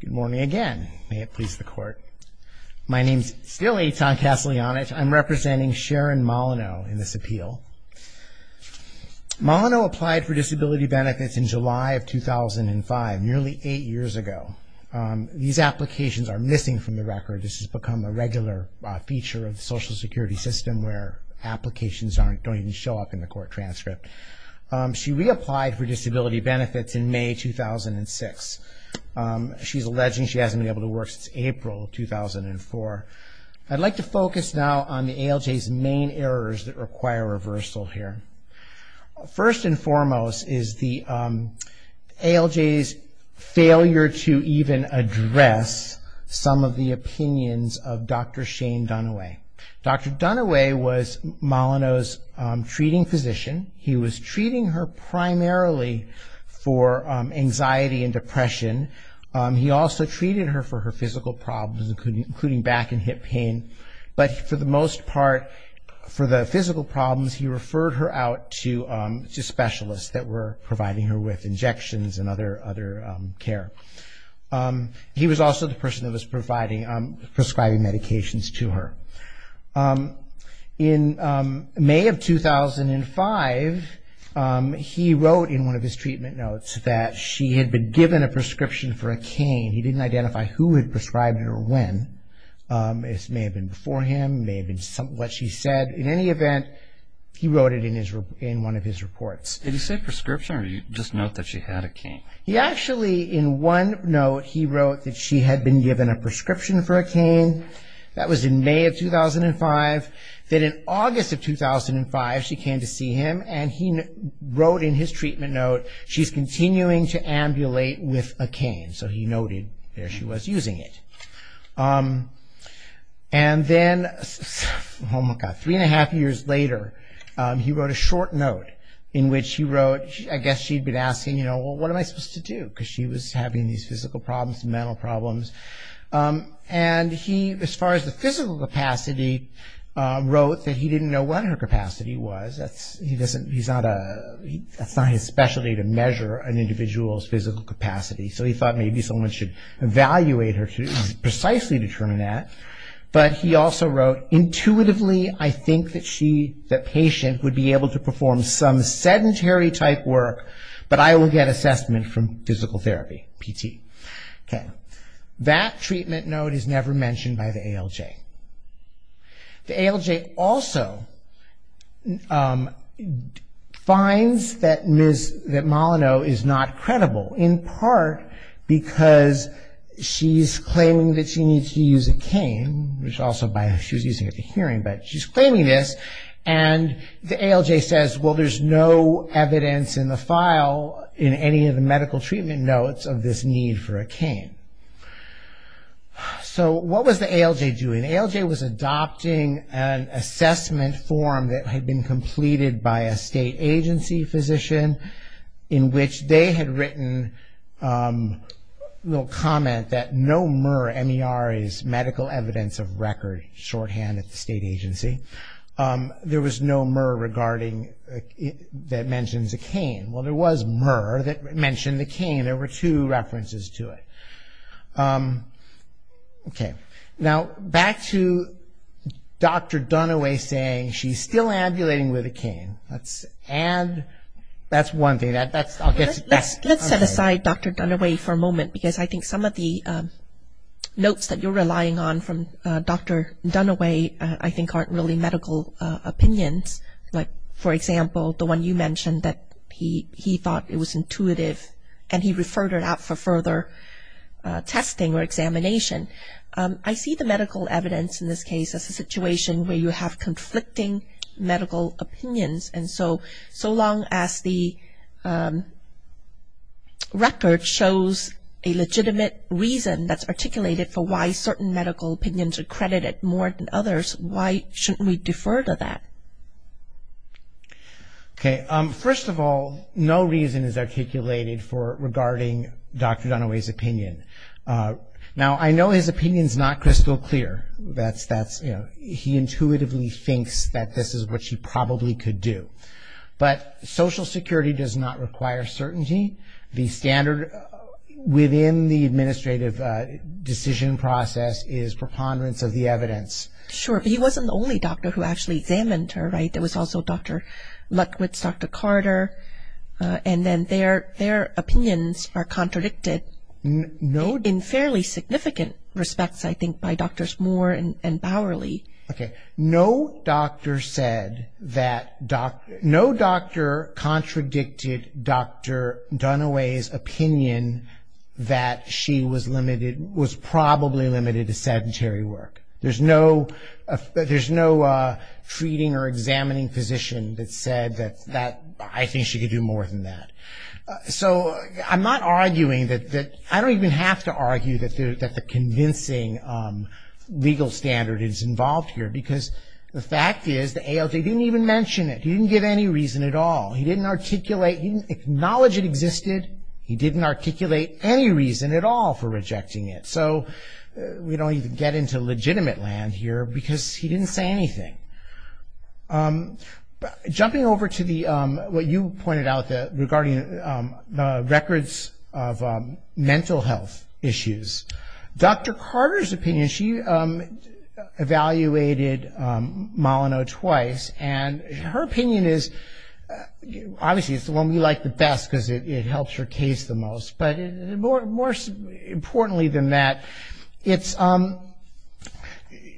Good morning again. May it please the court. My name's still Eitan Kaslyanich. I'm representing Sharon Molyneux in this appeal. Molyneux applied for disability benefits in July of 2005, nearly eight years ago. These applications are missing from the record. This has become a regular feature of the Social Security system where applications don't even show up in the court transcript. She reapplied for disability benefits in May 2006. She's alleging she hasn't been able to work since April 2004. I'd like to focus now on the ALJ's main errors that require reversal here. First and foremost is the ALJ's failure to even address some of the opinions of Dr. Shane Dunaway. Dr. Dunaway was Molyneux's treating physician. He was treating her primarily for anxiety and depression. He also treated her for her physical problems, including back and hip pain. But for the most part, for the physical problems, he referred her out to specialists that were providing her with injections and other care. He was also the person that was prescribing medications to her. In May of 2005, he wrote in one of his treatment notes that she had been given a prescription for a cane. He didn't identify who had prescribed it or when. It may have been before him, it may have been what she said. In any event, he wrote it in one of his reports. Did he say prescription or did he just note that she had a cane? He actually, in one note, he wrote that she had been given a prescription for a cane. That was in May of 2005. Then in August of 2005, she came to see him and he wrote in his treatment note, she's continuing to ambulate with a cane. So he noted there she was using it. And then, oh my God, three and a half years later, he wrote a short note in which he wrote, I guess she had been asking, you know, what am I supposed to do? Because she was having these physical problems and mental problems. And he, as far as the physical capacity, wrote that he didn't know what her capacity was. He doesn't, he's not a, that's not his specialty to measure an individual's physical capacity. So he thought maybe someone should evaluate her to precisely determine that. But he also wrote, intuitively, I think that she, the patient, would be able to perform some sedentary type work, but I will get assessment from physical therapy, PT. Okay. That treatment note is never mentioned by the ALJ. The ALJ also finds that Ms., that Molyneux is not credible, in part because she's claiming that she needs to use a cane, which also by, she was using it at the hearing, but she's claiming this. And the ALJ says, well, there's no evidence in the file in any of the medical treatment notes of this need for a cane. So what was the ALJ doing? The ALJ was adopting an assessment form that had been completed by a state agency physician in which they had written a little comment that no MR, M-E-R, is medical evidence of record, shorthand at the state agency. There was no MR regarding, that mentions a cane. Well, there was MR that mentioned the cane. There were two references to it. Okay. Now, back to Dr. Dunaway saying she's still ambulating with a cane. And that's one thing. Let's set aside Dr. Dunaway for a moment because I think some of the notes that you're relying on from Dr. Dunaway I think aren't really medical opinions. Like, for example, the one you mentioned that he thought it was intuitive and he referred her out for further testing or examination. I see the medical evidence in this case as a situation where you have conflicting medical opinions. And so, so long as the record shows a legitimate reason that's articulated for why certain medical opinions are credited more than others, why shouldn't we defer to that? Okay. First of all, no reason is articulated for regarding Dr. Dunaway's opinion. Now, I know his opinion is not crystal clear. That's, you know, he intuitively thinks that this is what she probably could do. But social security does not require certainty. The standard within the administrative decision process is preponderance of the evidence. Sure. But he wasn't the only doctor who actually examined her, right? There was also Dr. Lutkowitz, Dr. Carter. And then their opinions are contradicted. No. In fairly significant respects, I think, by Drs. Moore and Bowerly. Okay. No doctor said that, no doctor contradicted Dr. Dunaway's opinion that she was limited, was probably limited to sedentary work. There's no, there's no treating or examining physician that said that, I think she could do more than that. So I'm not arguing that, I don't even have to argue that the convincing legal standard is involved here. Because the fact is the ALJ didn't even mention it. He didn't give any reason at all. He didn't articulate, he didn't acknowledge it existed. He didn't articulate any reason at all for rejecting it. So we don't even get into legitimate land here because he didn't say anything. Okay. Jumping over to the, what you pointed out regarding the records of mental health issues. Dr. Carter's opinion, she evaluated Molyneux twice. And her opinion is, obviously it's the one we like the best because it helps her case the most. But more importantly than that, it's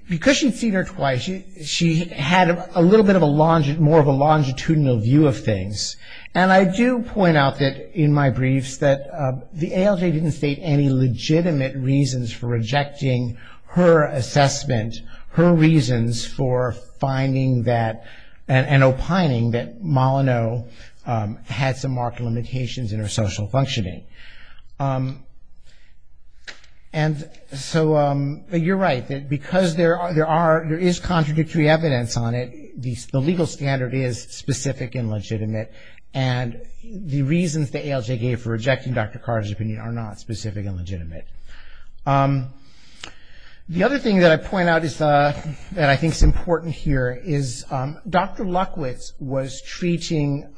because she'd seen her twice, she had a little bit of a, more of a longitudinal view of things. And I do point out that in my briefs that the ALJ didn't state any legitimate reasons for rejecting her assessment, her reasons for finding that, and opining that Molyneux had some marked limitations in her social functioning. And so, you're right, because there are, there is contradictory evidence on it, the legal standard is specific and legitimate. And the reasons the ALJ gave for rejecting Dr. Carter's opinion are not specific and legitimate. The other thing that I point out that I think is important here is Dr. Luckwitz was treating,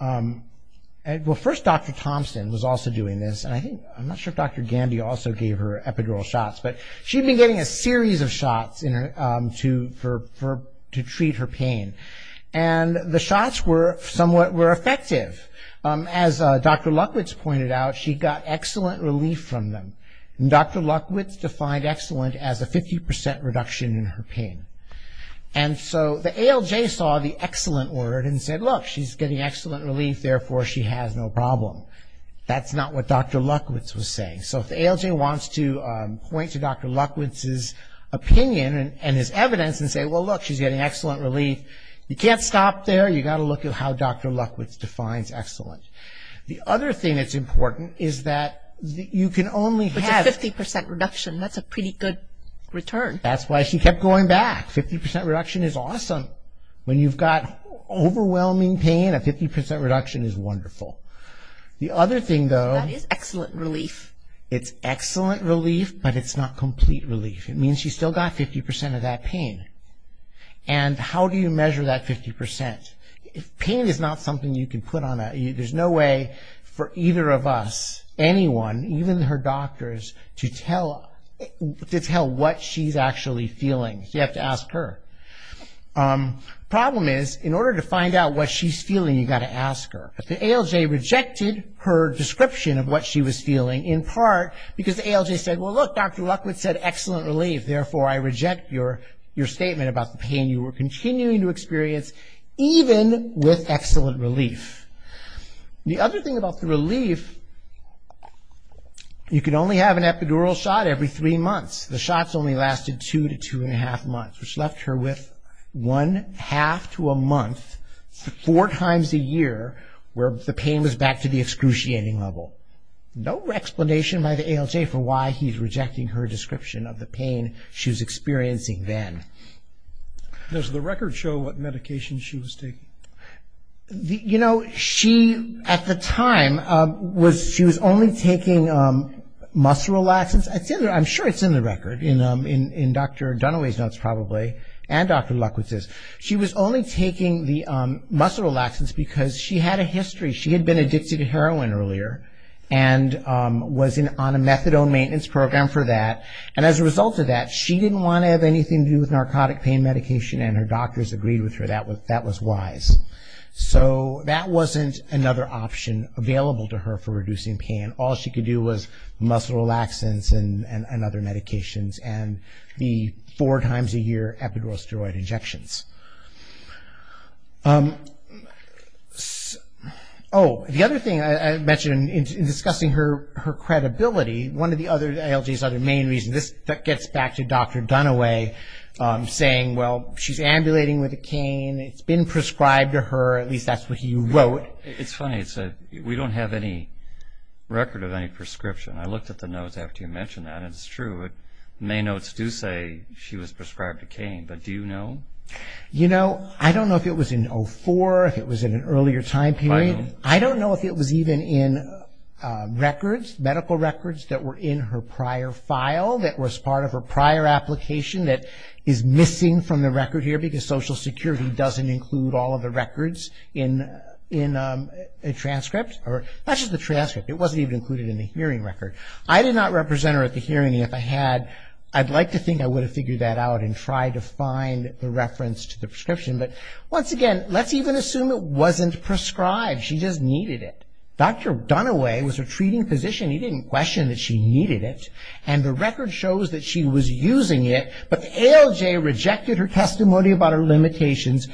well, first Dr. Thompson was also doing this, and I think, I'm not sure if Dr. Gandy also gave her epidural shots, but she'd been getting a series of shots to treat her pain. And the shots were somewhat, were effective. As Dr. Luckwitz pointed out, she got excellent relief from them. And Dr. Luckwitz defined excellent as a 50% reduction in her pain. And so, the ALJ saw the excellent word and said, look, she's getting excellent relief, therefore she has no problem. That's not what Dr. Luckwitz was saying. So, if the ALJ wants to point to Dr. Luckwitz's opinion and his evidence and say, well, look, she's getting excellent relief, you can't stop there. You've got to look at how Dr. Luckwitz defines excellent. The other thing that's important is that you can only have- Which is 50% reduction. That's a pretty good return. That's why she kept going back. 50% reduction is awesome. When you've got overwhelming pain, a 50% reduction is wonderful. The other thing, though- That is excellent relief. It's excellent relief, but it's not complete relief. It means she's still got 50% of that pain. And how do you measure that 50%? If pain is not something you can put on a- There's no way for either of us, anyone, even her doctors, to tell what she's actually feeling. You have to ask her. The problem is, in order to find out what she's feeling, you've got to ask her. The ALJ rejected her description of what she was feeling, in part because the ALJ said, well, look, Dr. Luckwitz said excellent relief. Therefore, I reject your statement about the pain you were continuing to experience, even with excellent relief. The other thing about the relief, you can only have an epidural shot every three months. The shots only lasted two to two and a half months, which left her with one half to a month, four times a year, where the pain was back to the excruciating level. No explanation by the ALJ for why he's rejecting her description of the pain she was experiencing then. Does the record show what medication she was taking? At the time, she was only taking muscle relaxants. I'm sure it's in the record, in Dr. Dunaway's notes probably, and Dr. Luckwitz's. She was only taking the muscle relaxants because she had a history. She had been addicted to heroin earlier and was on a methadone maintenance program for that. As a result of that, she didn't want to have anything to do with narcotic pain medication, and her doctors agreed with her that that was wise. So that wasn't another option available to her for reducing pain. All she could do was muscle relaxants and other medications and the four times a year epidural steroid injections. Oh, the other thing I mentioned in discussing her credibility, one of the other ALJ's other main reasons, this gets back to Dr. Dunaway saying, well, she's ambulating with a cane, it's been prescribed to her, at least that's what he wrote. It's funny, we don't have any record of any prescription. I looked at the notes after you mentioned that, and it's true. The main notes do say she was prescribed a cane, but do you know? You know, I don't know if it was in 04, if it was in an earlier time period. I don't know if it was even in records, medical records that were in her prior file that was part of her prior application that is missing from the record here because Social Security doesn't include all of the records in a transcript. Not just the transcript, it wasn't even included in the hearing record. I did not represent her at the hearing. If I had, I'd like to think I would have figured that out and tried to find the reference to the prescription. But once again, let's even assume it wasn't prescribed, she just needed it. Dr. Dunaway was her treating physician, he didn't question that she needed it, and the record shows that she was using it, but the ALJ rejected her testimony about her limitations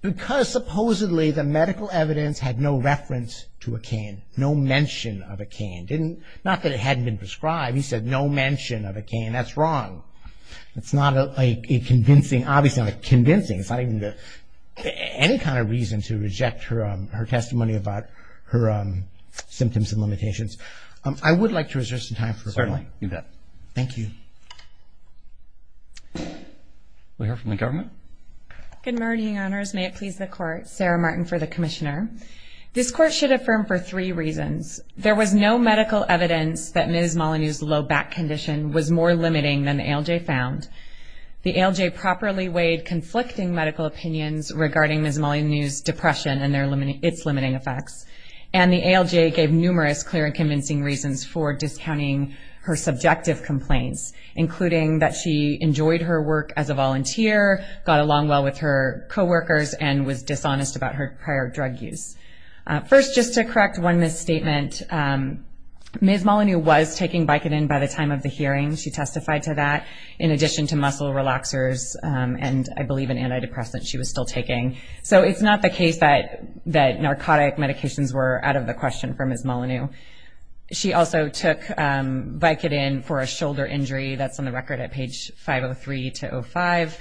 because supposedly the medical evidence had no reference to a cane, no mention of a cane. Not that it hadn't been prescribed, he said no mention of a cane, that's wrong. It's not a convincing, obviously not convincing, it's not even any kind of reason to reject her testimony about her symptoms and limitations. I would like to reserve some time for questions. Certainly, you bet. Thank you. We'll hear from the government. Good morning, Honors, may it please the Court. Sarah Martin for the Commissioner. This Court should affirm for three reasons. There was no medical evidence that Ms. Molyneux's low back condition was more limiting than the ALJ found. The ALJ properly weighed conflicting medical opinions regarding Ms. Molyneux's depression and its limiting effects, and the ALJ gave numerous clear and convincing reasons for discounting her subjective complaints, including that she enjoyed her work as a volunteer, got along well with her coworkers, and was dishonest about her prior drug use. First, just to correct one misstatement, Ms. Molyneux was taking Vicodin by the time of the hearing, she testified to that, in addition to muscle relaxers and I believe an antidepressant she was still taking. So it's not the case that narcotic medications were out of the question for Ms. Molyneux. She also took Vicodin for a shoulder injury that's on the record at page 503-05.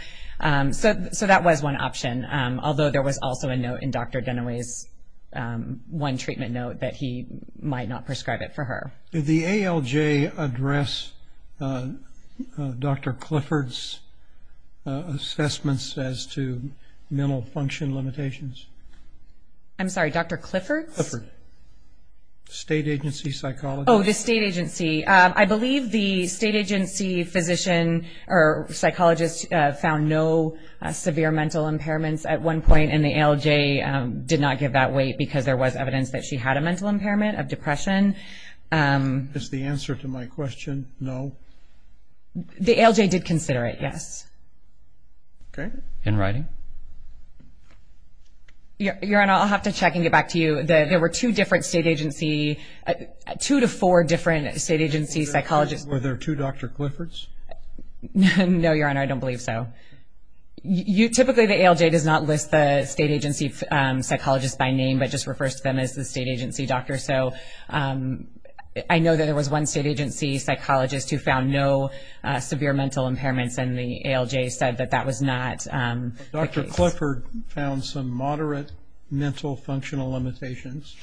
So that was one option, although there was also a note in Dr. Dunaway's one treatment note that he might not prescribe it for her. Did the ALJ address Dr. Clifford's assessments as to mental function limitations? I'm sorry, Dr. Clifford? Clifford. State agency psychologist? Oh, the state agency. I believe the state agency physician or psychologist found no severe mental impairments at one point, and the ALJ did not give that weight because there was evidence that she had a mental impairment of depression. Is the answer to my question no? The ALJ did consider it, yes. Okay. In writing? Your Honor, I'll have to check and get back to you. There were two different state agency, two to four different state agency psychologists. Were there two Dr. Cliffords? No, Your Honor, I don't believe so. Typically, the ALJ does not list the state agency psychologist by name, but just refers to them as the state agency doctor. So I know that there was one state agency psychologist who found no severe mental impairments, and the ALJ said that that was not the case. Dr. Clifford found some moderate mental functional limitations.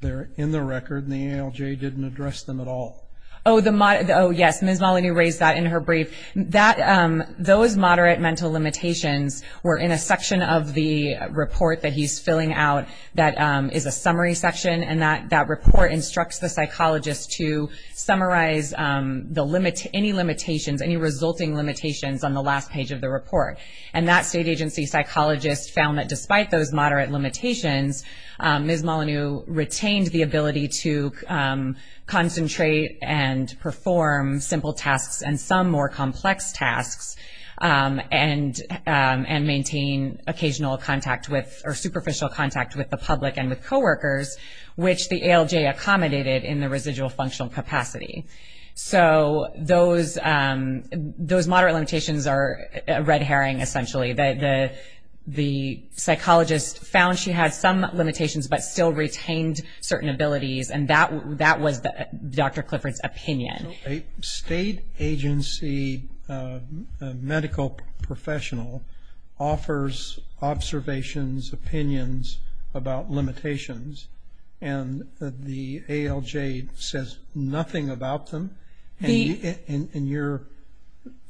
They're in the record, and the ALJ didn't address them at all. Oh, yes, Ms. Maloney raised that in her brief. Those moderate mental limitations were in a section of the report that he's filling out that is a summary section, and that report instructs the psychologist to summarize any limitations, any resulting limitations on the last page of the report. And that state agency psychologist found that despite those moderate limitations, Ms. Maloney retained the ability to concentrate and perform simple tasks and some more complex tasks and maintain occasional contact with or superficial contact with the public and with coworkers, which the ALJ accommodated in the residual functional capacity. So those moderate limitations are a red herring, essentially. The psychologist found she had some limitations but still retained certain abilities, and that was Dr. Clifford's opinion. A state agency medical professional offers observations, opinions about limitations, and the ALJ says nothing about them. And your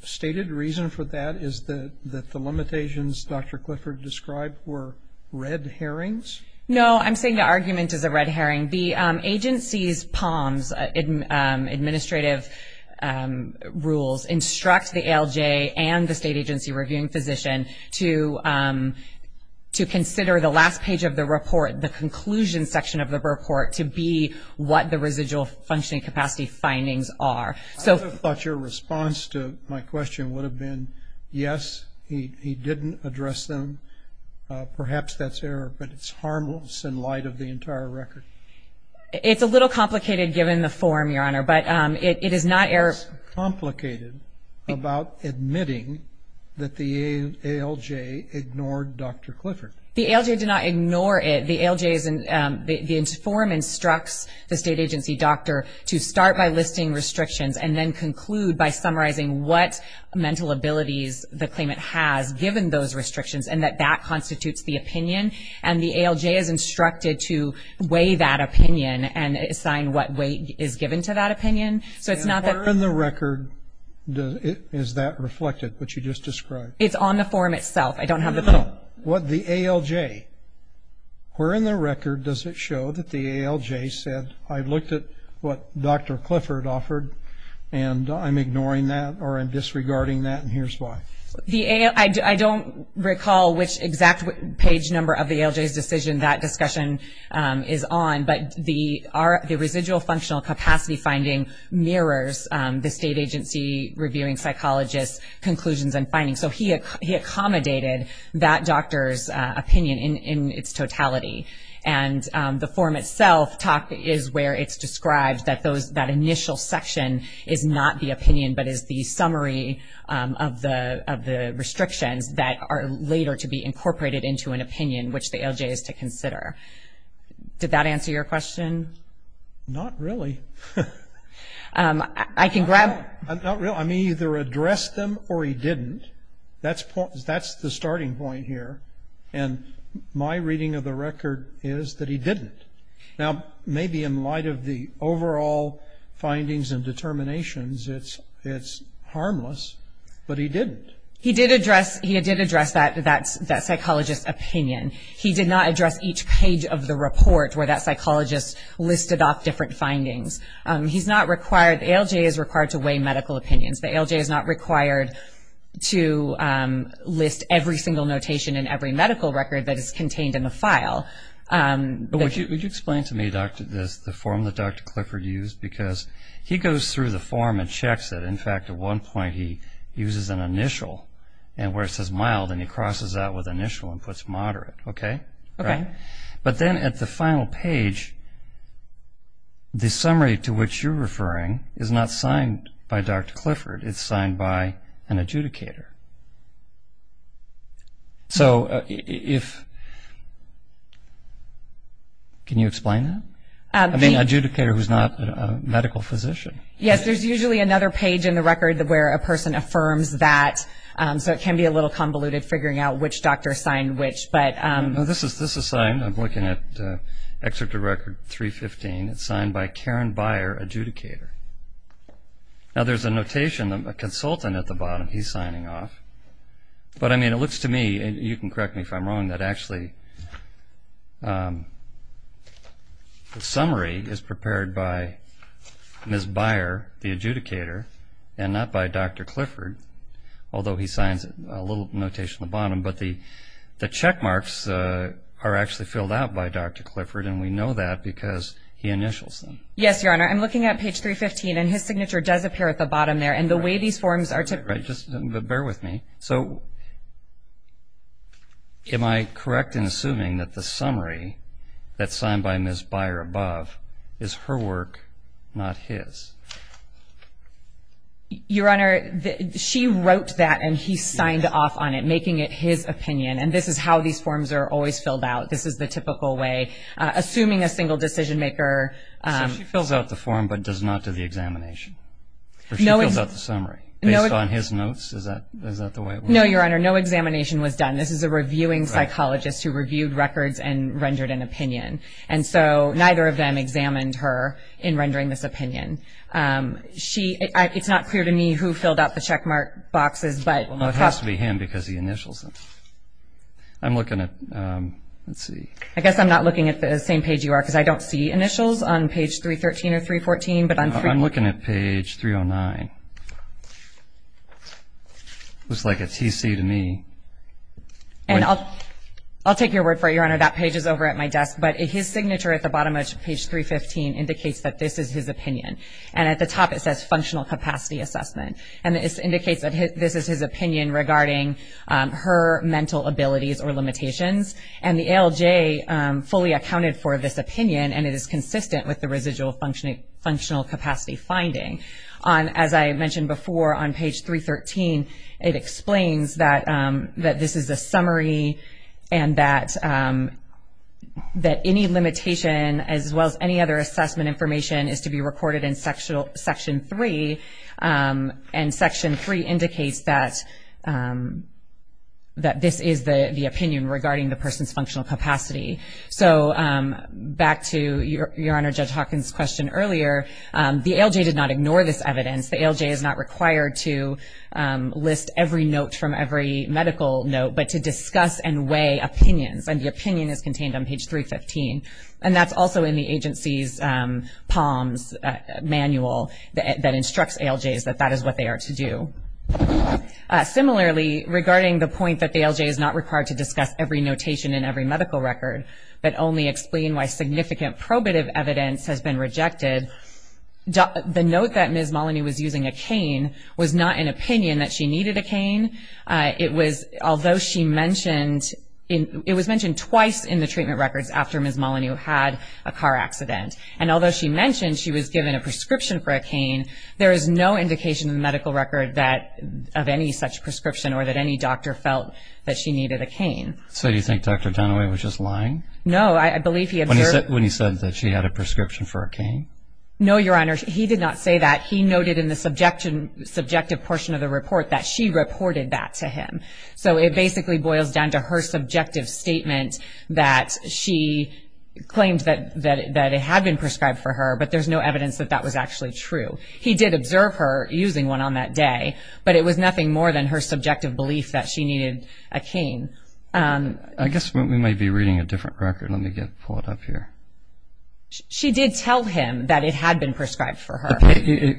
stated reason for that is that the limitations Dr. Clifford described were red herrings? No, I'm saying the argument is a red herring. The agency's POMs, administrative rules, instruct the ALJ and the state agency reviewing physician to consider the last page of the report, the conclusion section of the report to be what the residual functioning capacity findings are. I thought your response to my question would have been, yes, he didn't address them. Perhaps that's error, but it's harmless in light of the entire record. It's a little complicated given the form, Your Honor, but it is not error. It's complicated about admitting that the ALJ ignored Dr. Clifford. The ALJ did not ignore it. The form instructs the state agency doctor to start by listing restrictions and then conclude by summarizing what mental abilities the claimant has given those restrictions and that that constitutes the opinion, and the ALJ is instructed to weigh that opinion and assign what weight is given to that opinion. And where in the record is that reflected, what you just described? It's on the form itself. The ALJ. Where in the record does it show that the ALJ said, I looked at what Dr. Clifford offered and I'm ignoring that or I'm disregarding that and here's why. I don't recall which exact page number of the ALJ's decision that discussion is on, but the residual functional capacity finding mirrors the state agency reviewing psychologist's conclusions and findings. So he accommodated that doctor's opinion in its totality, and the form itself is where it's described that that initial section is not the opinion but is the summary of the restrictions that are later to be incorporated into an opinion, which the ALJ is to consider. Did that answer your question? Not really. I can grab. I'm either addressed them or he didn't. That's the starting point here. And my reading of the record is that he didn't. Now, maybe in light of the overall findings and determinations, it's harmless, but he didn't. He did address that psychologist's opinion. He did not address each page of the report where that psychologist listed off different findings. ALJ is required to weigh medical opinions. The ALJ is not required to list every single notation in every medical record that is contained in the file. Would you explain to me, Doctor, the form that Dr. Clifford used? Because he goes through the form and checks it. In fact, at one point he uses an initial where it says mild, and he crosses that with initial and puts moderate. Okay? Okay. But then at the final page, the summary to which you're referring is not signed by Dr. Clifford. It's signed by an adjudicator. So if – can you explain that? I mean adjudicator who's not a medical physician. Yes, there's usually another page in the record where a person affirms that. So it can be a little convoluted figuring out which doctor signed which. This is signed. I'm looking at Excerpt of Record 315. It's signed by Karen Byer, adjudicator. Now, there's a notation, a consultant at the bottom. He's signing off. But, I mean, it looks to me, and you can correct me if I'm wrong, that actually the summary is prepared by Ms. Byer, the adjudicator, and not by Dr. Clifford, although he signs a little notation at the bottom. But the check marks are actually filled out by Dr. Clifford, and we know that because he initials them. Yes, Your Honor. I'm looking at page 315, and his signature does appear at the bottom there. And the way these forms are – Just bear with me. So am I correct in assuming that the summary that's signed by Ms. Byer above is her work, not his? Your Honor, she wrote that, and he signed off on it, making it his opinion. And this is how these forms are always filled out. This is the typical way. Assuming a single decision-maker – So she fills out the form but does not do the examination? Or she fills out the summary based on his notes? Is that the way it works? No, Your Honor. No examination was done. This is a reviewing psychologist who reviewed records and rendered an opinion. And so neither of them examined her in rendering this opinion. It's not clear to me who filled out the checkmark boxes. Well, it has to be him because he initials them. I'm looking at – let's see. I guess I'm not looking at the same page you are because I don't see initials on page 313 or 314. I'm looking at page 309. Looks like a TC to me. I'll take your word for it, Your Honor. That page is over at my desk. But his signature at the bottom of page 315 indicates that this is his opinion. And at the top it says functional capacity assessment. And this indicates that this is his opinion regarding her mental abilities or limitations. And the ALJ fully accounted for this opinion, and it is consistent with the residual functional capacity finding. As I mentioned before, on page 313, it explains that this is a summary and that any limitation, as well as any other assessment information, is to be recorded in Section 3. And Section 3 indicates that this is the opinion regarding the person's functional capacity. So back to Your Honor Judge Hawkins' question earlier, the ALJ did not ignore this evidence. The ALJ is not required to list every note from every medical note, but to discuss and weigh opinions. And the opinion is contained on page 315. And that's also in the agency's POMS manual that instructs ALJs that that is what they are to do. Similarly, regarding the point that the ALJ is not required to discuss every notation in every medical record, but only explain why significant probative evidence has been rejected, the note that Ms. Maloney was using a cane was not an opinion that she needed a cane. It was mentioned twice in the treatment records after Ms. Maloney had a car accident. And although she mentioned she was given a prescription for a cane, there is no indication in the medical record of any such prescription or that any doctor felt that she needed a cane. So you think Dr. Dunaway was just lying? No. When he said that she had a prescription for a cane? No, Your Honor. He did not say that. He noted in the subjective portion of the report that she reported that to him. So it basically boils down to her subjective statement that she claimed that it had been prescribed for her, but there's no evidence that that was actually true. He did observe her using one on that day, but it was nothing more than her subjective belief that she needed a cane. I guess we might be reading a different record. Let me pull it up here. She did tell him that it had been prescribed for her.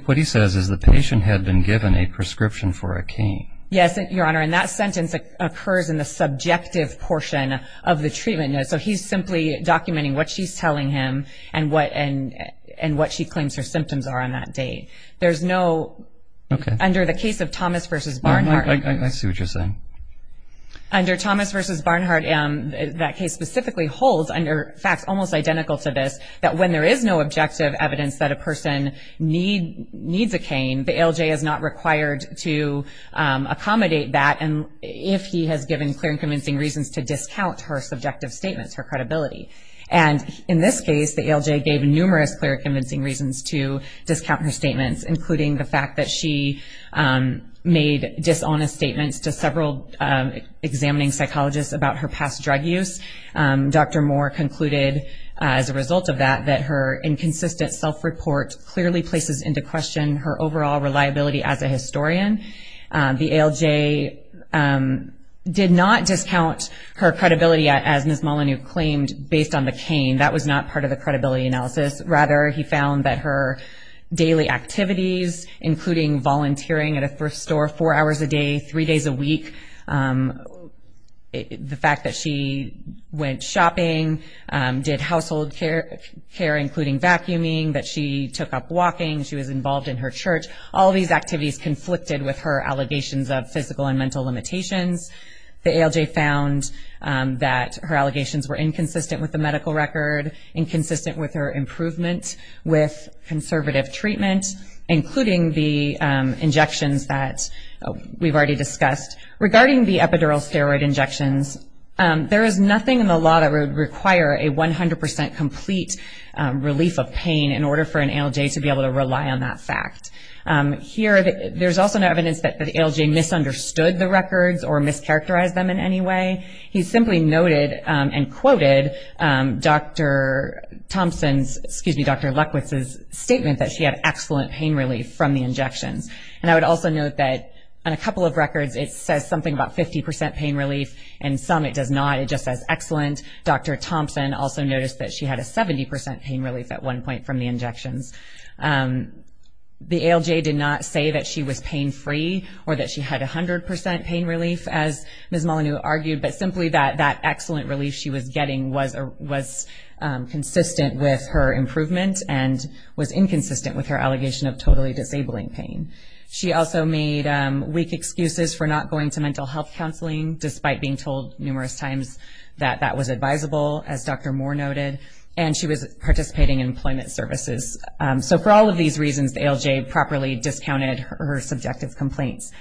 What he says is the patient had been given a prescription for a cane. Yes, Your Honor, and that sentence occurs in the subjective portion of the treatment notes. So he's simply documenting what she's telling him and what she claims her symptoms are on that day. There's no, under the case of Thomas v. Barnhart. I see what you're saying. Under Thomas v. Barnhart, that case specifically holds under facts almost identical to this, that when there is no objective evidence that a person needs a cane, the ALJ is not required to accommodate that if he has given clear and convincing reasons to discount her subjective statements, her credibility. And in this case, the ALJ gave numerous clear and convincing reasons to discount her statements, including the fact that she made dishonest statements to several examining psychologists about her past drug use. Dr. Moore concluded as a result of that that her inconsistent self-report clearly places into question her overall reliability as a historian. The ALJ did not discount her credibility, as Ms. Molyneux claimed, based on the cane. That was not part of the credibility analysis. Rather, he found that her daily activities, including volunteering at a thrift store four hours a day, three days a week, the fact that she went shopping, did household care, including vacuuming, that she took up walking, she was involved in her church, all these activities conflicted with her allegations of physical and mental limitations. The ALJ found that her allegations were inconsistent with the medical record, inconsistent with her improvement with conservative treatment, including the injections that we've already discussed. Regarding the epidural steroid injections, there is nothing in the law that would require a 100 percent complete relief of pain in order for an ALJ to be able to rely on that fact. Here, there's also no evidence that the ALJ misunderstood the records or mischaracterized them in any way. He simply noted and quoted Dr. Thompson's, excuse me, Dr. Leckwitz's statement that she had excellent pain relief from the injections. And I would also note that on a couple of records, it says something about 50 percent pain relief, and some it does not. It just says excellent. Dr. Thompson also noticed that she had a 70 percent pain relief at one point from the injections. The ALJ did not say that she was pain free or that she had 100 percent pain relief, as Ms. Molyneux argued, but simply that that excellent relief she was getting was consistent with her improvement and was inconsistent with her allegation of totally disabling pain. She also made weak excuses for not going to mental health counseling, despite being told numerous times that that was advisable, as Dr. Moore noted, and she was participating in employment services. So for all of these reasons, the ALJ properly discounted her subjective complaints.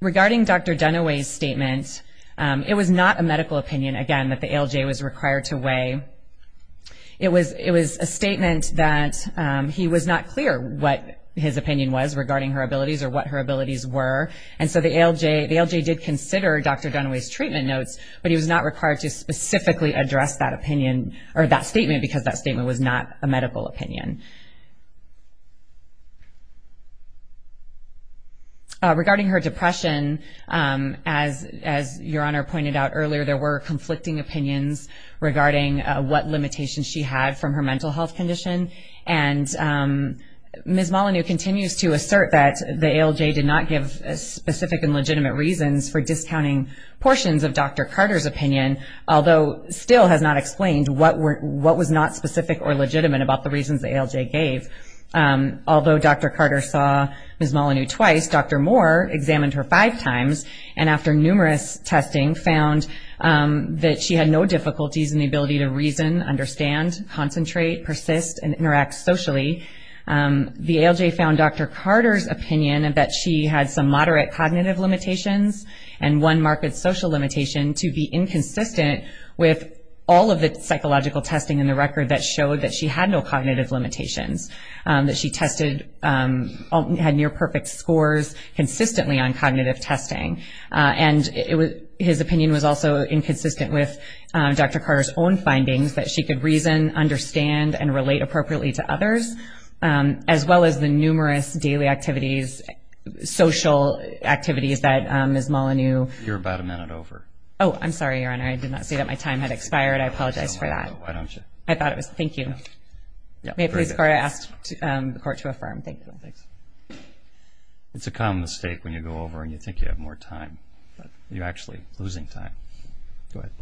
Regarding Dr. Dunaway's statement, it was not a medical opinion, again, that the ALJ was required to weigh. It was a statement that he was not clear what his opinion was regarding her abilities or what her abilities were, and so the ALJ did consider Dr. Dunaway's treatment notes, but he was not required to specifically address that statement because that statement was not a medical opinion. Regarding her depression, as Your Honor pointed out earlier, there were conflicting opinions regarding what limitations she had from her mental health condition, and Ms. Molyneux continues to assert that the ALJ did not give specific and legitimate reasons for discounting portions of Dr. Carter's opinion, although still has not explained what was not specific or legitimate about the reasons the ALJ gave. Although Dr. Carter saw Ms. Molyneux twice, Dr. Moore examined her five times, and after numerous testing found that she had no difficulties in the ability to reason, understand, concentrate, persist, and interact socially. The ALJ found Dr. Carter's opinion that she had some moderate cognitive limitations and one marked social limitation to be inconsistent with all of the psychological testing in the record that showed that she had no cognitive limitations, that she had near-perfect scores consistently on cognitive testing, and his opinion was also inconsistent with Dr. Carter's own findings that she could reason, understand, and relate appropriately to others, as well as the numerous daily activities, social activities that Ms. Molyneux. You're about a minute over. Oh, I'm sorry, Your Honor. I did not say that my time had expired. I apologize for that. Why don't you? I thought it was. Thank you. May I please ask the Court to affirm? Thank you. Thanks. It's a common mistake when you go over and you think you have more time, but you're actually losing time. Go ahead.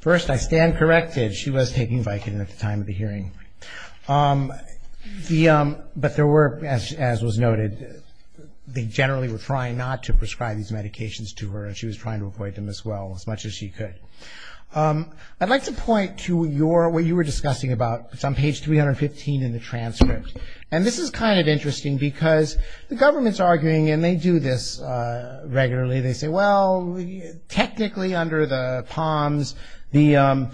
First, I stand corrected. She was taking Vicodin at the time of the hearing. But there were, as was noted, they generally were trying not to prescribe these medications to her, and she was trying to avoid them as well, as much as she could. I'd like to point to what you were discussing about. It's on page 315 in the transcript. And this is kind of interesting because the government's arguing, and they do this regularly. They say, well, technically under the POMS, the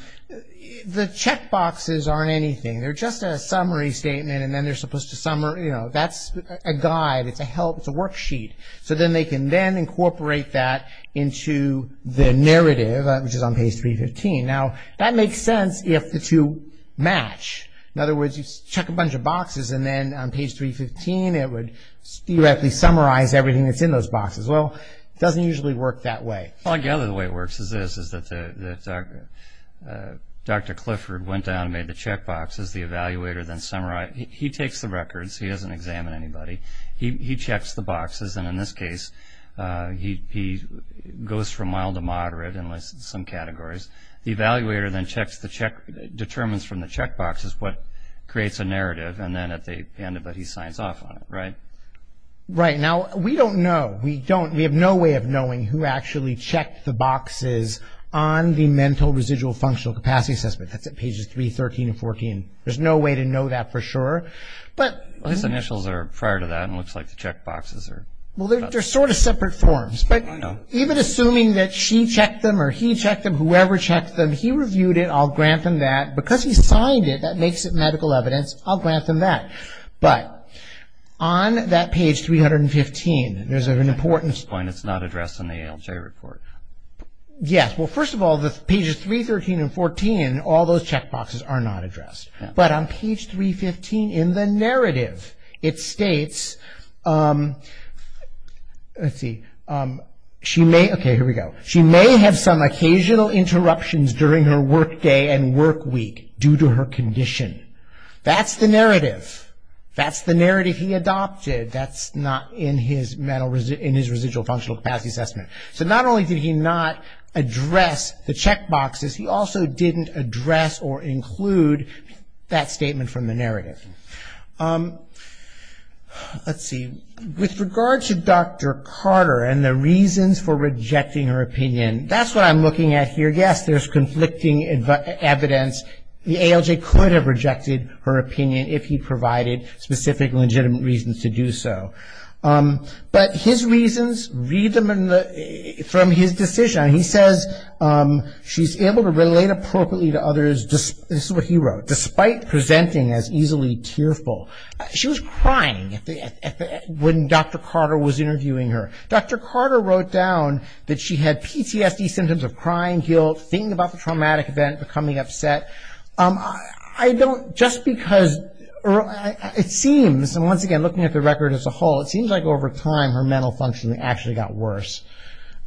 checkboxes aren't anything. They're just a summary statement, and then they're supposed to, you know, that's a guide. It's a worksheet. So then they can then incorporate that into the narrative, which is on page 315. Now, that makes sense if the two match. In other words, you check a bunch of boxes, and then on page 315, it would theoretically summarize everything that's in those boxes. Well, it doesn't usually work that way. Well, I gather the way it works is this, is that Dr. Clifford went down and made the checkboxes. The evaluator then summarizes. He takes the records. He doesn't examine anybody. He checks the boxes. And in this case, he goes from mild to moderate in some categories. The evaluator then checks the check, determines from the checkboxes what creates a narrative, and then at the end of it, he signs off on it, right? Right. Now, we don't know. We don't. We have no way of knowing who actually checked the boxes on the mental residual functional capacity assessment. That's at pages 313 and 314. There's no way to know that for sure. But... Well, his initials are prior to that, and it looks like the checkboxes are... Well, they're sort of separate forms. I know. But even assuming that she checked them or he checked them, whoever checked them, he reviewed it. I'll grant him that. Because he signed it, that makes it medical evidence. I'll grant him that. But on that page 315, there's an important... At this point, it's not addressed in the ALJ report. Yes. Well, first of all, the pages 313 and 314, all those checkboxes are not addressed. But on page 315 in the narrative, it states, let's see, she may... Okay, here we go. She may have some occasional interruptions during her work day and work week due to her condition. That's the narrative. That's the narrative he adopted. That's not in his residual functional capacity assessment. So not only did he not address the checkboxes, he also didn't address or include that statement from the narrative. Let's see. With regard to Dr. Carter and the reasons for rejecting her opinion, that's what I'm looking at here. Yes, there's conflicting evidence. The ALJ could have rejected her opinion if he provided specific legitimate reasons to do so. But his reasons, read them from his decision. He says she's able to relate appropriately to others, this is what he wrote, despite presenting as easily tearful. She was crying when Dr. Carter was interviewing her. Dr. Carter wrote down that she had PTSD symptoms of crying, thinking about the traumatic event, becoming upset. Just because it seems, and once again looking at the record as a whole, it seems like over time her mental functioning actually got worse.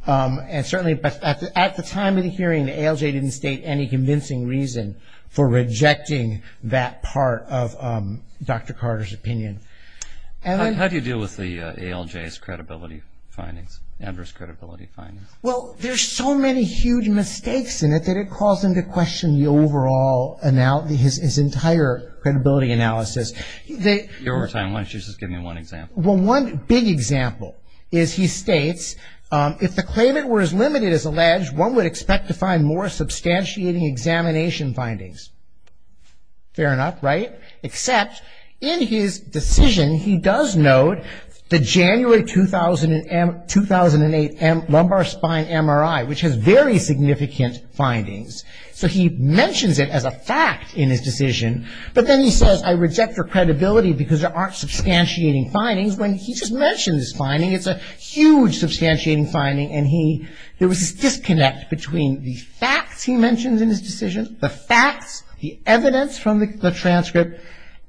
And certainly at the time of the hearing, the ALJ didn't state any convincing reason for rejecting that part of Dr. Carter's opinion. How do you deal with the ALJ's credibility findings, adverse credibility findings? Well, there's so many huge mistakes in it that it caused him to question the overall, his entire credibility analysis. Give me one example. Well, one big example is he states, if the claimant were as limited as alleged, one would expect to find more substantiating examination findings. Fair enough, right? Except in his decision he does note the January 2008 lumbar spine MRI, which has very significant findings. So he mentions it as a fact in his decision, but then he says I reject your credibility because there aren't substantiating findings when he just mentioned this finding. It's a huge substantiating finding, and there was this disconnect between the facts he mentions in his decision, the facts, the evidence from the transcript,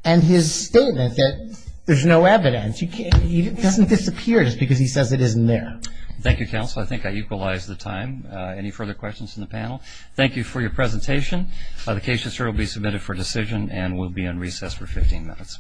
and his statement that there's no evidence. It doesn't disappear just because he says it isn't there. Thank you, counsel. I think I equalized the time. Any further questions from the panel? Thank you for your presentation. The case will be submitted for decision and will be on recess for 15 minutes. Thank you.